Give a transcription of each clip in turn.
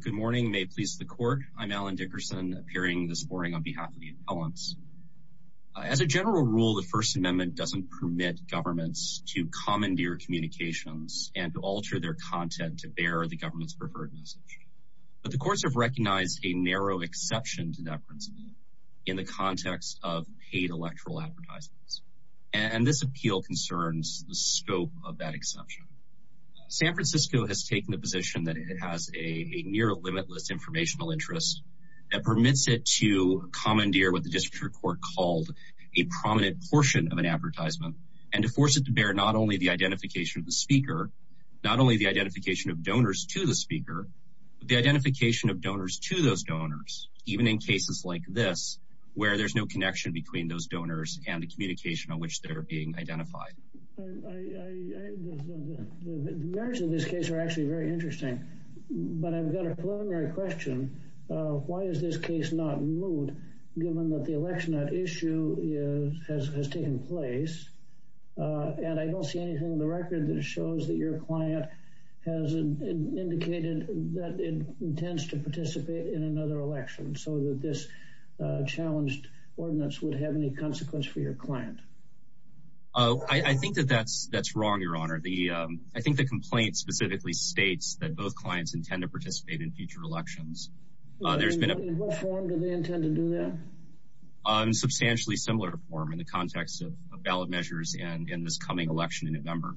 Good morning. May it please the court. I'm Alan Dickerson, appearing this morning on behalf of the appellants. As a general rule, the First Amendment doesn't permit governments to commandeer communications and to alter their content to bear the government's preferred message. But the courts have recognized a narrow exception to that principle in the context of paid electoral advertisements. And this appeal concerns the scope of that exception. San Francisco has taken the position that it has a near limitless informational interest that permits it to commandeer what the district court called a prominent portion of an advertisement and to force it to bear not only the identification of the speaker, not only the identification of donors to the speaker, but the identification of donors to those donors, even in cases like this where there's no connection between those donors and the communication on which they're being identified. The merits of this case are actually very interesting, but I've got a preliminary question. Why is this case not moved, given that the election issue has taken place? And I don't see anything in the record that shows that your client has indicated that it intends to participate in another election, so that this challenged ordinance would have any consequence for your client. I think that that's wrong, Your Honor. I think the complaint specifically states that both clients intend to participate in future elections. In what form do they intend to do that? In a substantially similar form in the context of ballot measures and this coming election in November.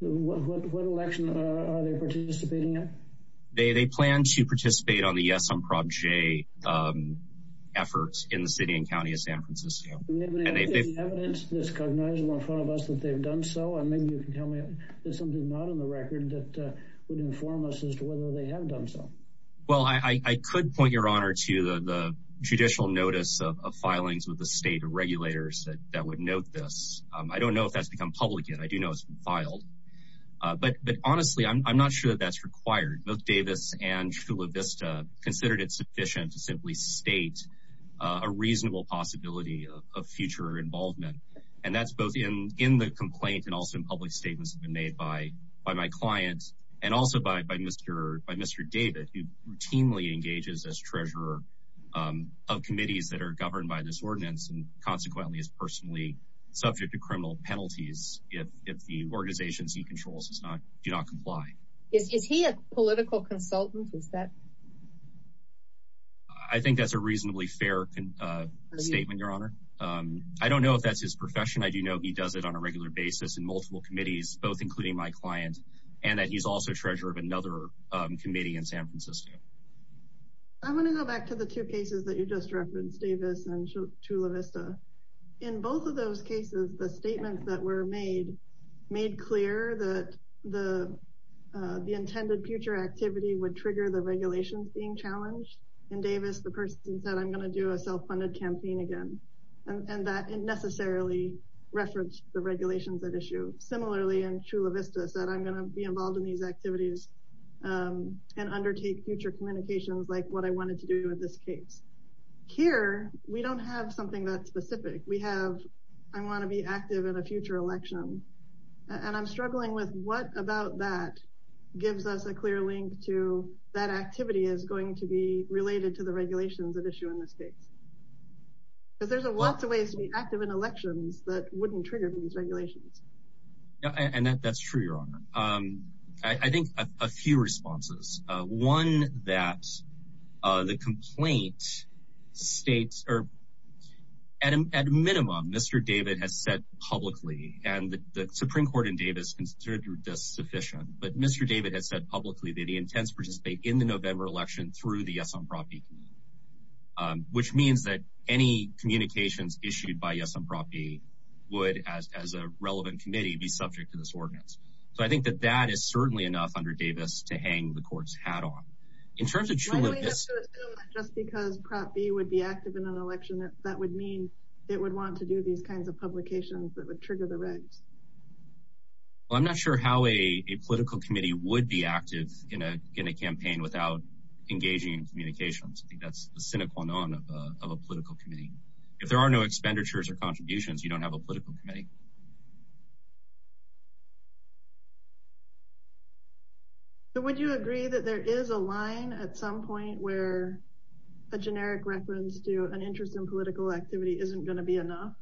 What election are they participating in? They plan to participate on the Yes on Prop J efforts in the city and county of San Francisco. Do we have any evidence that's cognizable in front of us that they've done so? And maybe you can tell me if there's something not in the record that would inform us as to whether they have done so. Well, I could point, Your Honor, to the judicial notice of filings with the state regulators that would note this. I don't know if that's become public yet. I do know it's been filed. But honestly, I'm not sure that that's required. Both Davis and Chula Vista considered it sufficient to simply state a reasonable possibility of future involvement. And that's both in the complaint and also in public statements that have been made by my client, and also by Mr. David, who routinely engages as treasurer of committees that are governed by this ordinance and consequently is personally subject to criminal penalties if the organizations he controls do not comply. Is he a political consultant? I think that's a reasonably fair statement, Your Honor. I don't know if that's his profession. I do know he does it on a regular basis in multiple committees, both including my client, and that he's also treasurer of another committee in San Francisco. I want to go back to the two cases that you just referenced, Davis and Chula Vista. In both of those cases, the statements that were made made clear that the intended future activity would trigger the regulations being challenged. In Davis, the person said, I'm going to do a self-funded campaign again. And that necessarily referenced the regulations at issue. Similarly, in Chula Vista, said, I'm going to be involved in these activities and undertake future communications like what I wanted to do in this case. Here, we don't have something that's specific. We have, I want to be active in a future election. And I'm struggling with what about that gives us a clear link to that activity is going to be related to the regulations at issue in this case. Because there's lots of ways to be active in elections that wouldn't trigger these regulations. And that's true, Your Honor. I think a few responses. One, that the complaint states, or at minimum, Mr. David has said publicly, and the Supreme Court in Davis considered this sufficient. But Mr. David has said publicly that he intends to participate in the November election through the Yes on Property Committee. Which means that any communications issued by Yes on Property would, as a relevant committee, be subject to this ordinance. So I think that that is certainly enough under Davis to hang the court's hat on. In terms of Chula Vista. Why do we have to assume that just because Prop B would be active in an election, that would mean it would want to do these kinds of publications that would trigger the regs? Well, I'm not sure how a political committee would be active in a campaign without engaging in communications. I think that's the cynical none of a political committee. If there are no expenditures or contributions, you don't have a political committee. So would you agree that there is a line at some point where a generic reference to an interest in political activity isn't going to be enough?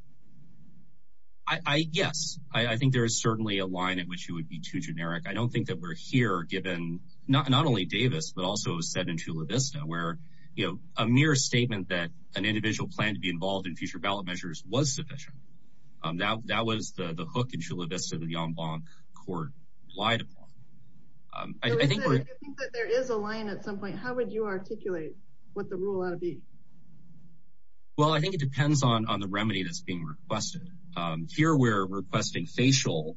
Yes. I think there is certainly a line at which it would be too generic. I don't think that we're here given, not only Davis, but also said in Chula Vista, where a mere statement that an individual planned to be involved in future ballot measures was sufficient. That was the hook in Chula Vista that the En Blanc Court relied upon. I think that there is a line at some point. How would you articulate what the rule ought to be? Well, I think it depends on the remedy that's being requested. Here we're requesting facial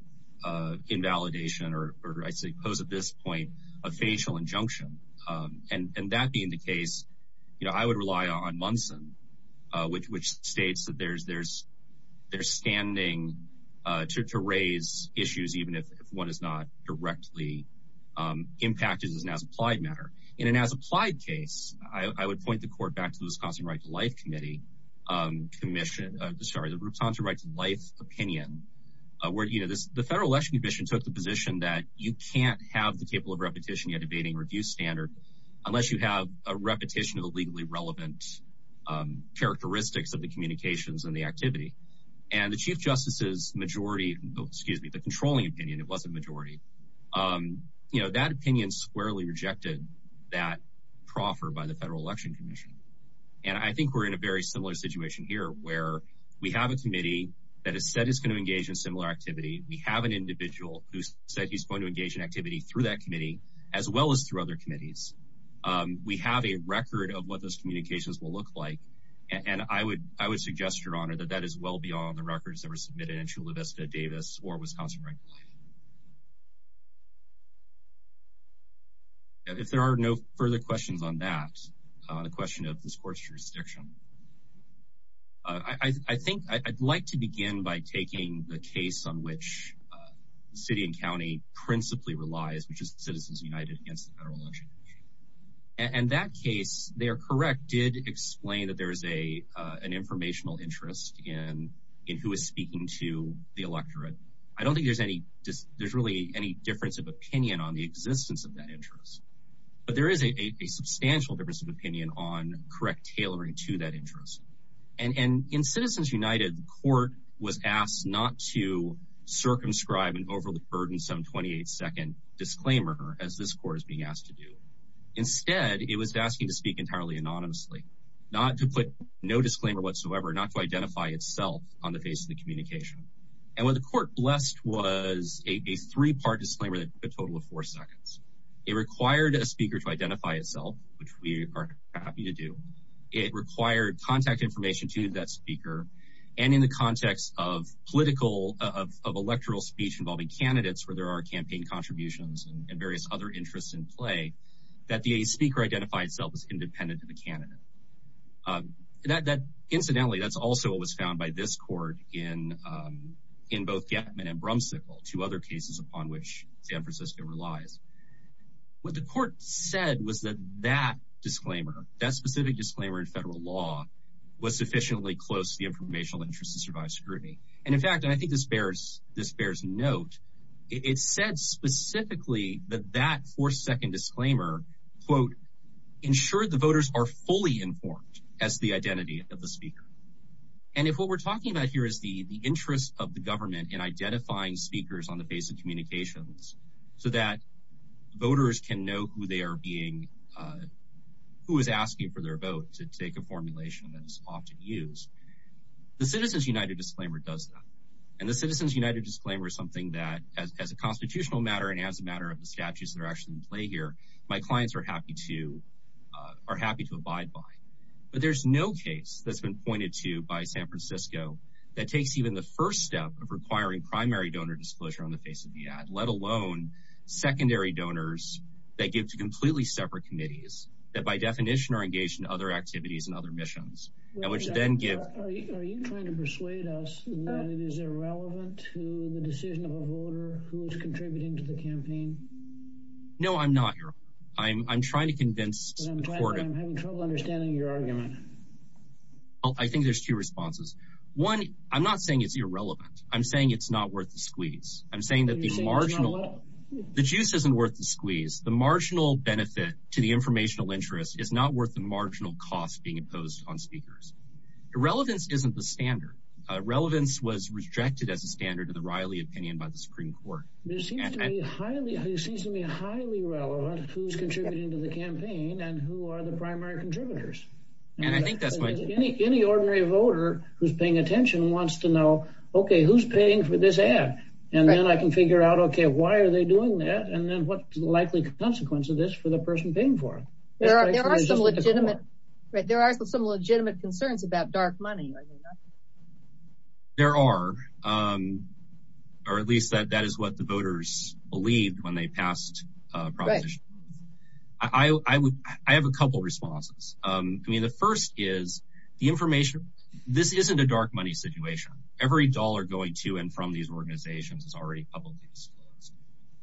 invalidation, or I suppose at this point, a facial injunction. And that being the case, I would rely on Munson, which states that they're standing to raise issues even if one is not directly impacted as an as-applied matter. In an as-applied case, I would point the court back to the Wisconsin Rights and Life Opinion, where the Federal Election Commission took the position that you can't have the capable of repetition yet abating review standard unless you have a repetition of a legally relevant characteristics of the communications and the activity. And the Chief Justice's majority, excuse me, the controlling opinion, it wasn't majority, you know, that opinion squarely rejected that proffer by the Federal Election Commission. And I think we're in a very similar situation here, where we have a committee that has said it's going to engage in similar activity. We have an individual who said he's going to engage in activity through that committee, as well as through other committees. We have a record of what those communications will look like. And I would suggest, Your Honor, that that is well beyond the records that were submitted in Chula Vista, Davis, or Wisconsin Rights and Life. If there are no further questions on that, on the question of this court's jurisdiction, I think I'd like to begin by taking the case on which the city and county principally relies, which is Citizens United against the Federal Election Commission. And that case, they are correct, did explain that there is an informational interest in who is speaking to the electorate. I don't think there's really any difference of opinion on the existence of that interest. But there is a substantial difference of opinion on correct tailoring to that interest. And in Citizens United, the court was asked not to circumscribe an overly burdensome 28-second disclaimer, as this court is being asked to do. Instead, it was asking to speak entirely anonymously, not to put no disclaimer whatsoever, not to identify itself on the face of the communication. And what the court blessed was a three-part disclaimer that took a total of four seconds. It required a speaker to identify itself, which we are happy to do. It required contact information to that speaker. And in the context of political, of electoral speech involving candidates where there are campaign contributions and various other interests in play, that the speaker identify itself as independent of the candidate. Incidentally, that's also what was found by this court in both Gettman and Brumsicle, two other cases upon which San Francisco relies. What the court said was that that disclaimer, that specific disclaimer in federal law, was sufficiently close to the informational interest to survive scrutiny. And in fact, and I think this bears note, it said specifically that that four-second disclaimer, quote, ensured the voters are fully informed as the identity of the speaker. And if what we're talking about here is the interest of the government in identifying speakers on the face of communications so that voters can know who they are being, who is asking for their vote to take a formulation that is often used, the Citizens United disclaimer does that. And the Citizens United disclaimer is something that, as a constitutional matter and as a matter of the statutes that are actually in play here, my clients are happy to abide by. But there's no case that's been pointed to by San Francisco that takes even the first step of requiring primary donor disclosure on the face of the ad, let alone secondary donors that give to completely separate committees that, by definition, are engaged in other activities and other missions. Are you trying to persuade us that it is irrelevant to the decision of a voter who is contributing to the campaign? No, I'm not. I'm trying to convince the court. I'm having trouble understanding your argument. I think there's two responses. One, I'm not saying it's irrelevant. I'm saying it's not worth the squeeze. I'm saying that the marginal, the juice isn't worth the squeeze. The marginal benefit to the informational interest is not worth the marginal cost being imposed on speakers. Irrelevance isn't the standard. Relevance was rejected as a standard in the Riley opinion by the Supreme Court. It seems to me highly relevant who's contributing to the campaign and who are the primary contributors. Any ordinary voter who's paying attention wants to know, okay, who's paying for this ad? And then I can figure out, okay, why are they doing that, and then what's the likely consequence of this for the person paying for it? There are some legitimate concerns about dark money. There are, or at least that is what the voters believed when they passed Proposition 1. I have a couple responses. I mean, the first is the information. This isn't a dark money situation. Every dollar going to and from these organizations is already publicly disclosed.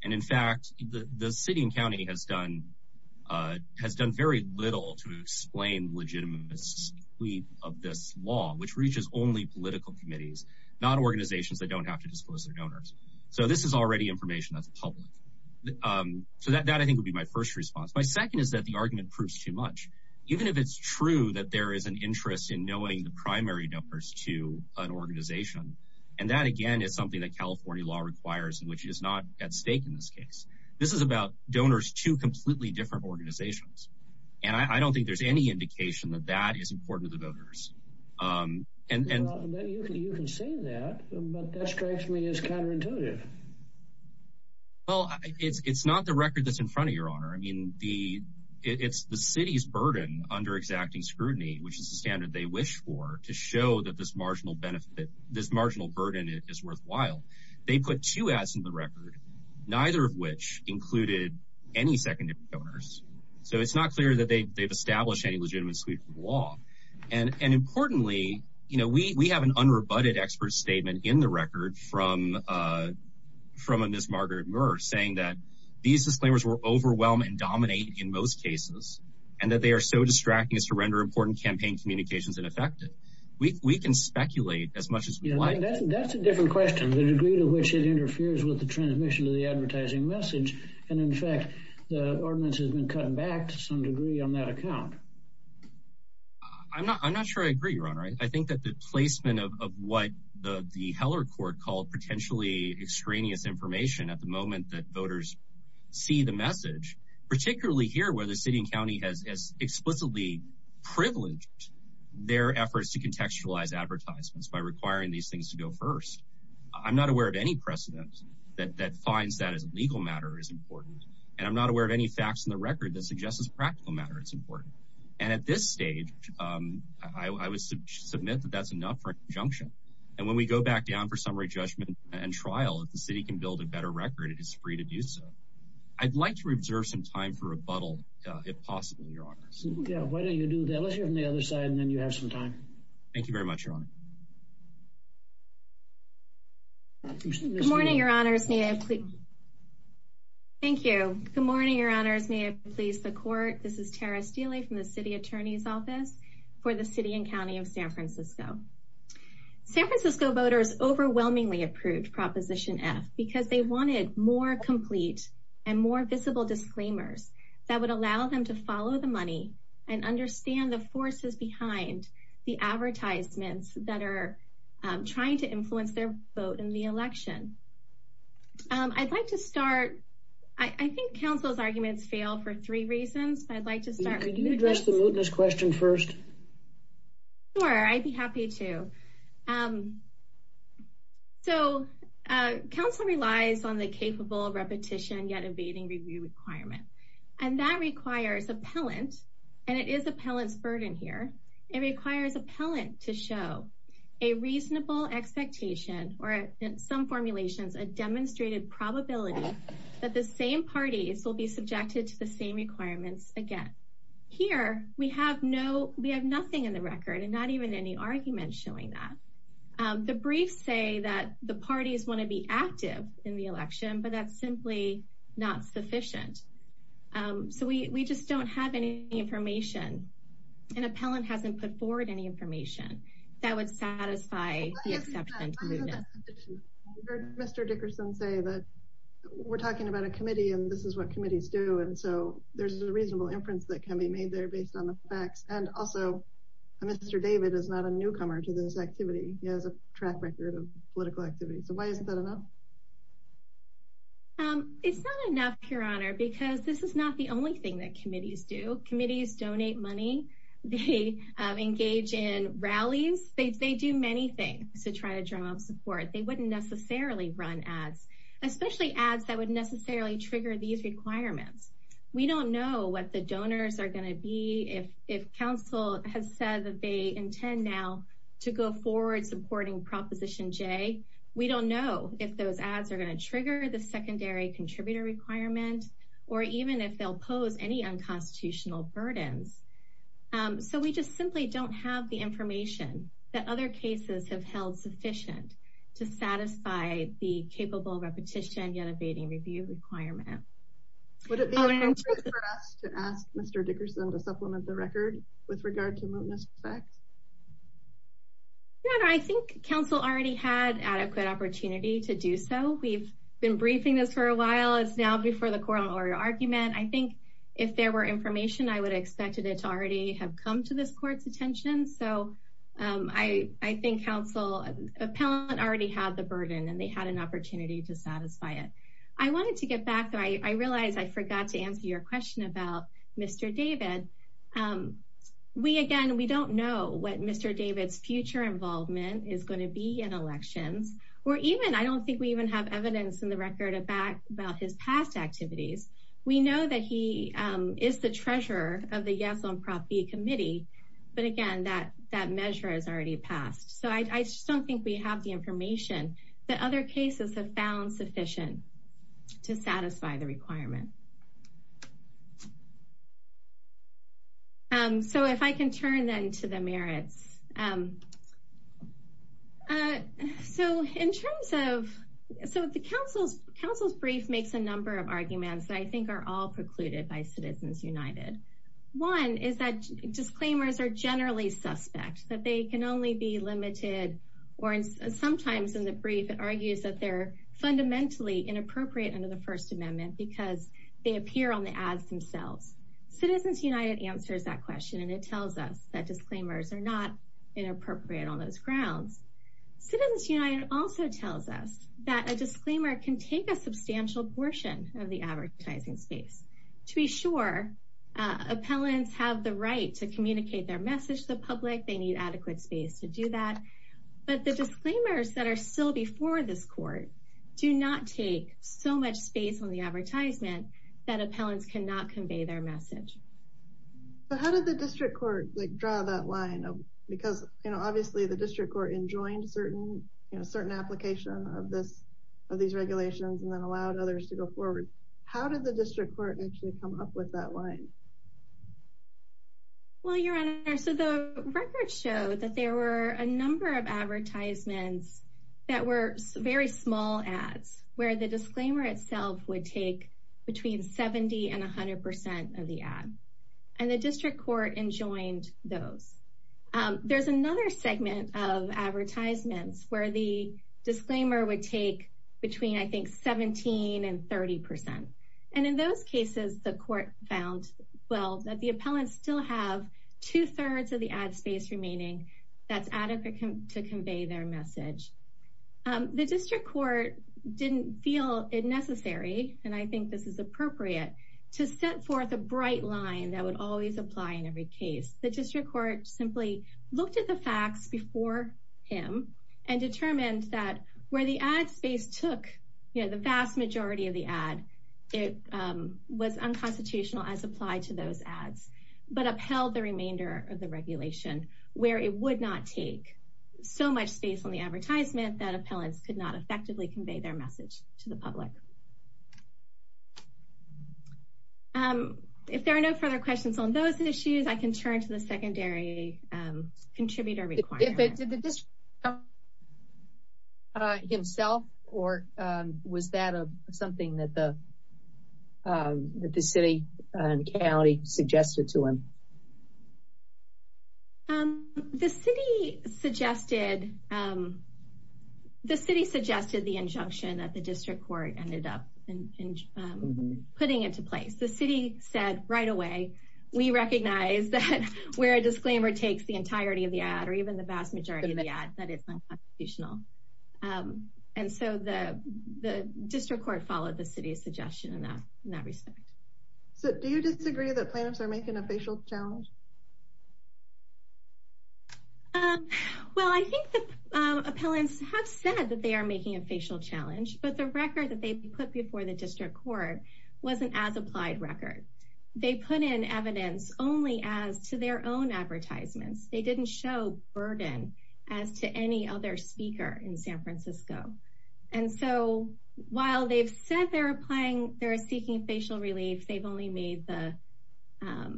And, in fact, the city and county has done very little to explain the legitimacy of this law, which reaches only political committees, not organizations that don't have to disclose their donors. So this is already information that's public. So that, I think, would be my first response. My second is that the argument proves too much. Even if it's true that there is an interest in knowing the primary donors to an organization, and that, again, is something that California law requires, which is not at stake in this case. This is about donors to completely different organizations. And I don't think there's any indication that that is important to the voters. You can say that, but that strikes me as counterintuitive. Well, it's not the record that's in front of you, Your Honor. I mean, it's the city's burden under exacting scrutiny, which is the standard they wish for, to show that this marginal benefit, this marginal burden is worthwhile. They put two ads in the record, neither of which included any secondary donors. So it's not clear that they've established any legitimacy for the law. And importantly, we have an unrebutted expert statement in the record from a Ms. Margaret Murr saying that these disclaimers were overwhelming and dominating in most cases, and that they are so distracting as to render important campaign communications ineffective. We can speculate as much as we like. That's a different question, the degree to which it interferes with the transmission of the advertising message. And in fact, the ordinance has been cut back to some degree on that account. I'm not sure I agree, Your Honor. I think that the placement of what the Heller court called potentially extraneous information at the moment that voters see the message, particularly here where the city and county has explicitly privileged their efforts to contextualize advertisements by requiring these things to go first. I'm not aware of any precedent that finds that as a legal matter is important, and I'm not aware of any facts in the record that suggests as a practical matter it's important. And at this stage, I would submit that that's enough for a conjunction. And when we go back down for summary judgment and trial, if the city can build a better record, it is free to do so. I'd like to reserve some time for rebuttal, if possible, Your Honor. Why don't you do that? Let's hear from the other side, and then you have some time. Thank you very much, Your Honor. Good morning, Your Honors. Thank you. Good morning, Your Honors. May it please the court. This is Tara Steele from the city attorney's office for the city and county of San Francisco. San Francisco voters overwhelmingly approved Proposition F because they wanted more complete and more visible disclaimers that would allow them to follow the money and understand the forces behind the advertisements that are trying to influence their vote in the election. I'd like to start. I think counsel's arguments fail for three reasons. I'd like to start. Can you address the mootness question first? Sure, I'd be happy to. So, counsel relies on the capable repetition yet evading review requirement. And that requires appellant, and it is appellant's burden here. It requires appellant to show a reasonable expectation or some formulations, a demonstrated probability that the same parties will be subjected to the same requirements again. Here, we have no, we have nothing in the record and not even any argument showing that. The briefs say that the parties want to be active in the election, but that's simply not sufficient. So we just don't have any information. And appellant hasn't put forward any information that would satisfy the exception to mootness. I heard Mr. Dickerson say that we're talking about a committee, and this is what committees do. And so there's a reasonable inference that can be made there based on the facts. And also, Mr. David is not a newcomer to this activity. He has a track record of political activity. So why isn't that enough? It's not enough, Your Honor, because this is not the only thing that committees do. Committees donate money. They engage in rallies. They do many things to try to draw up support. They wouldn't necessarily run ads, especially ads that would necessarily trigger these requirements. We don't know what the donors are going to be. If counsel has said that they intend now to go forward supporting Proposition J, we don't know if those ads are going to trigger the secondary contributor requirement or even if they'll pose any unconstitutional burdens. So we just simply don't have the information that other cases have held sufficient to satisfy the capable repetition yet evading review requirement. Would it be appropriate for us to ask Mr. Dickerson to supplement the record with regard to mootness effects? Your Honor, I think counsel already had adequate opportunity to do so. We've been briefing this for a while. It's now before the court on oral argument. I think if there were information, I would have expected it to already have come to this court's attention. So I think counsel appellant already had the burden and they had an opportunity to satisfy it. I wanted to get back. I realize I forgot to answer your question about Mr. David. We again, we don't know what Mr. David's future involvement is going to be in elections or even I don't think we even have evidence in the record of back about his past activities. We know that he is the treasurer of the yes on property committee. But again, that that measure is already passed. So I just don't think we have the information that other cases have found sufficient to satisfy the requirement. So if I can turn then to the merits. So in terms of so the council's council's brief makes a number of arguments that I think are all precluded by Citizens United. One is that disclaimers are generally suspect that they can only be limited or sometimes in the brief. It argues that they're fundamentally inappropriate under the First Amendment because they appear on the ads themselves. Citizens United answers that question and it tells us that disclaimers are not inappropriate on those grounds. Citizens United also tells us that a disclaimer can take a substantial portion of the advertising space to be sure. Appellants have the right to communicate their message to the public. They need adequate space to do that. But the disclaimers that are still before this court do not take so much space on the advertisement that appellants cannot convey their message. How did the district court draw that line? Because obviously the district court enjoined certain certain application of this of these regulations and then allowed others to go forward. How did the district court actually come up with that line? Well, your Honor, so the records show that there were a number of advertisements that were very small ads where the disclaimer itself would take between 70 and 100 percent of the ad and the district court enjoined those. There's another segment of advertisements where the disclaimer would take between I think 17 and 30 percent. And in those cases, the court found, well, that the appellants still have two thirds of the ad space remaining. That's adequate to convey their message. The district court didn't feel it necessary. And I think this is appropriate to set forth a bright line that would always apply in every case. The district court simply looked at the facts before him and determined that where the ad space took the vast majority of the ad. It was unconstitutional as applied to those ads, but upheld the remainder of the regulation where it would not take so much space on the advertisement that appellants could not effectively convey their message to the public. If there are no further questions on those issues, I can turn to the secondary contributor. Did the district court himself or was that something that the city and county suggested to him? The city suggested the injunction that the district court ended up putting into place. The city said right away, we recognize that where a disclaimer takes the entirety of the ad or even the vast majority of the ad, that it's unconstitutional. And so the district court followed the city's suggestion in that respect. So do you disagree that plaintiffs are making a facial challenge? Well, I think the appellants have said that they are making a facial challenge, but the record that they put before the district court wasn't as applied record. They put in evidence only as to their own advertisements. They didn't show burden as to any other speaker in San Francisco. And so while they've said they're applying, they're seeking facial relief. They've only made the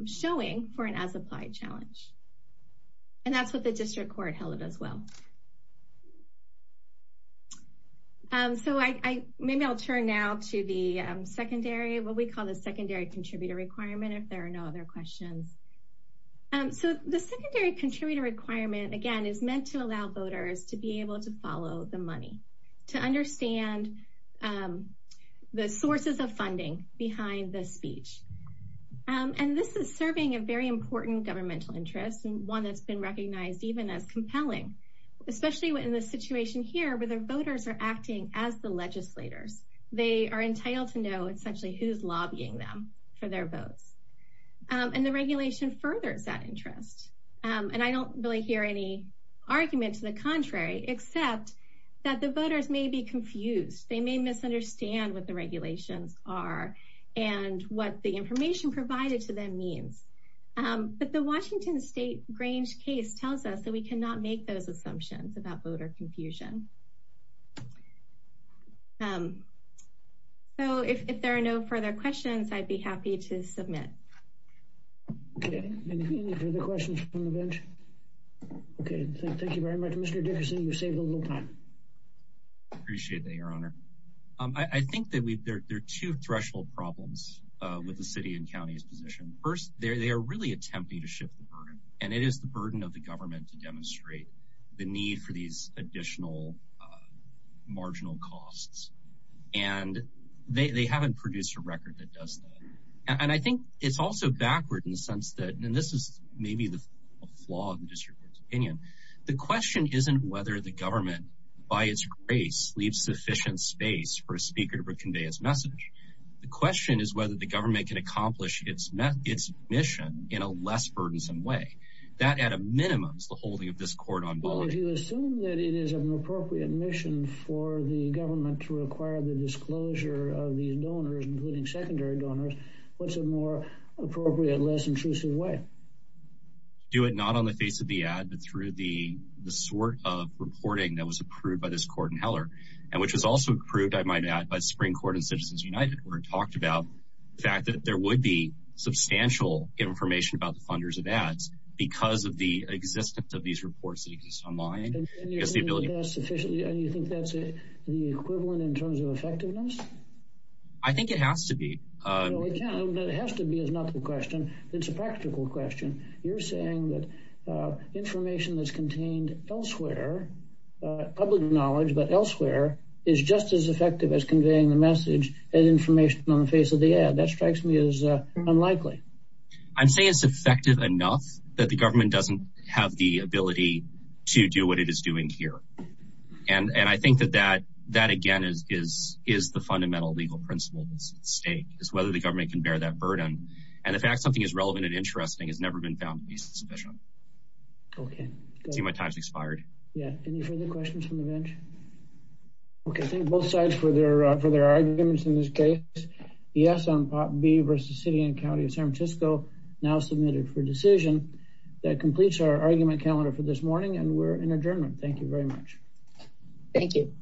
showing for an as applied challenge. And that's what the district court held it as well. So I maybe I'll turn now to the secondary what we call the secondary contributor requirement if there are no other questions. So the secondary contributor requirement, again, is meant to allow voters to be able to follow the money to understand the sources of funding behind the speech. And this is serving a very important governmental interest and one that's been recognized even as compelling, especially in this situation here where their voters are acting as the legislators. They are entitled to know essentially who's lobbying them for their votes. And the regulation furthers that interest. And I don't really hear any argument to the contrary, except that the voters may be confused. They may misunderstand what the regulations are and what the information provided to them means. But the Washington state Grange case tells us that we cannot make those assumptions about voter confusion. So if there are no further questions, I'd be happy to submit any further questions from the bench. OK, thank you very much, Mr. Dickerson. You saved a little time. Appreciate that, Your Honor. I think that there are two threshold problems with the city and county's position. First, they are really attempting to shift the burden. And it is the burden of the government to demonstrate the need for these additional marginal costs. And they haven't produced a record that does that. And I think it's also backward in the sense that, and this is maybe the flaw of the district court's opinion. The question isn't whether the government, by its grace, leaves sufficient space for a speaker to convey its message. The question is whether the government can accomplish its mission in a less burdensome way. That, at a minimum, is the holding of this court on board. Well, if you assume that it is an appropriate mission for the government to require the disclosure of these donors, including secondary donors, what's a more appropriate, less intrusive way? Do it not on the face of the ad, but through the sort of reporting that was approved by this court in Heller. And which was also approved, I might add, by the Supreme Court and Citizens United where it talked about the fact that there would be substantial information about the funders of ads because of the existence of these reports that exist online. And you think that's the equivalent in terms of effectiveness? I think it has to be. It has to be is not the question. It's a practical question. You're saying that information that's contained elsewhere, public knowledge but elsewhere, is just as effective as conveying the message and information on the face of the ad. That strikes me as unlikely. I'm saying it's effective enough that the government doesn't have the ability to do what it is doing here. And I think that that, again, is the fundamental legal principle that's at stake, is whether the government can bear that burden. And the fact something is relevant and interesting has never been found to be sufficient. Okay. I see my time has expired. Yeah. Any further questions from the bench? Okay. Thank both sides for their arguments in this case. The yes on Part B versus City and County of San Francisco now submitted for decision. That completes our argument calendar for this morning and we're in adjournment. Thank you very much. Thank you.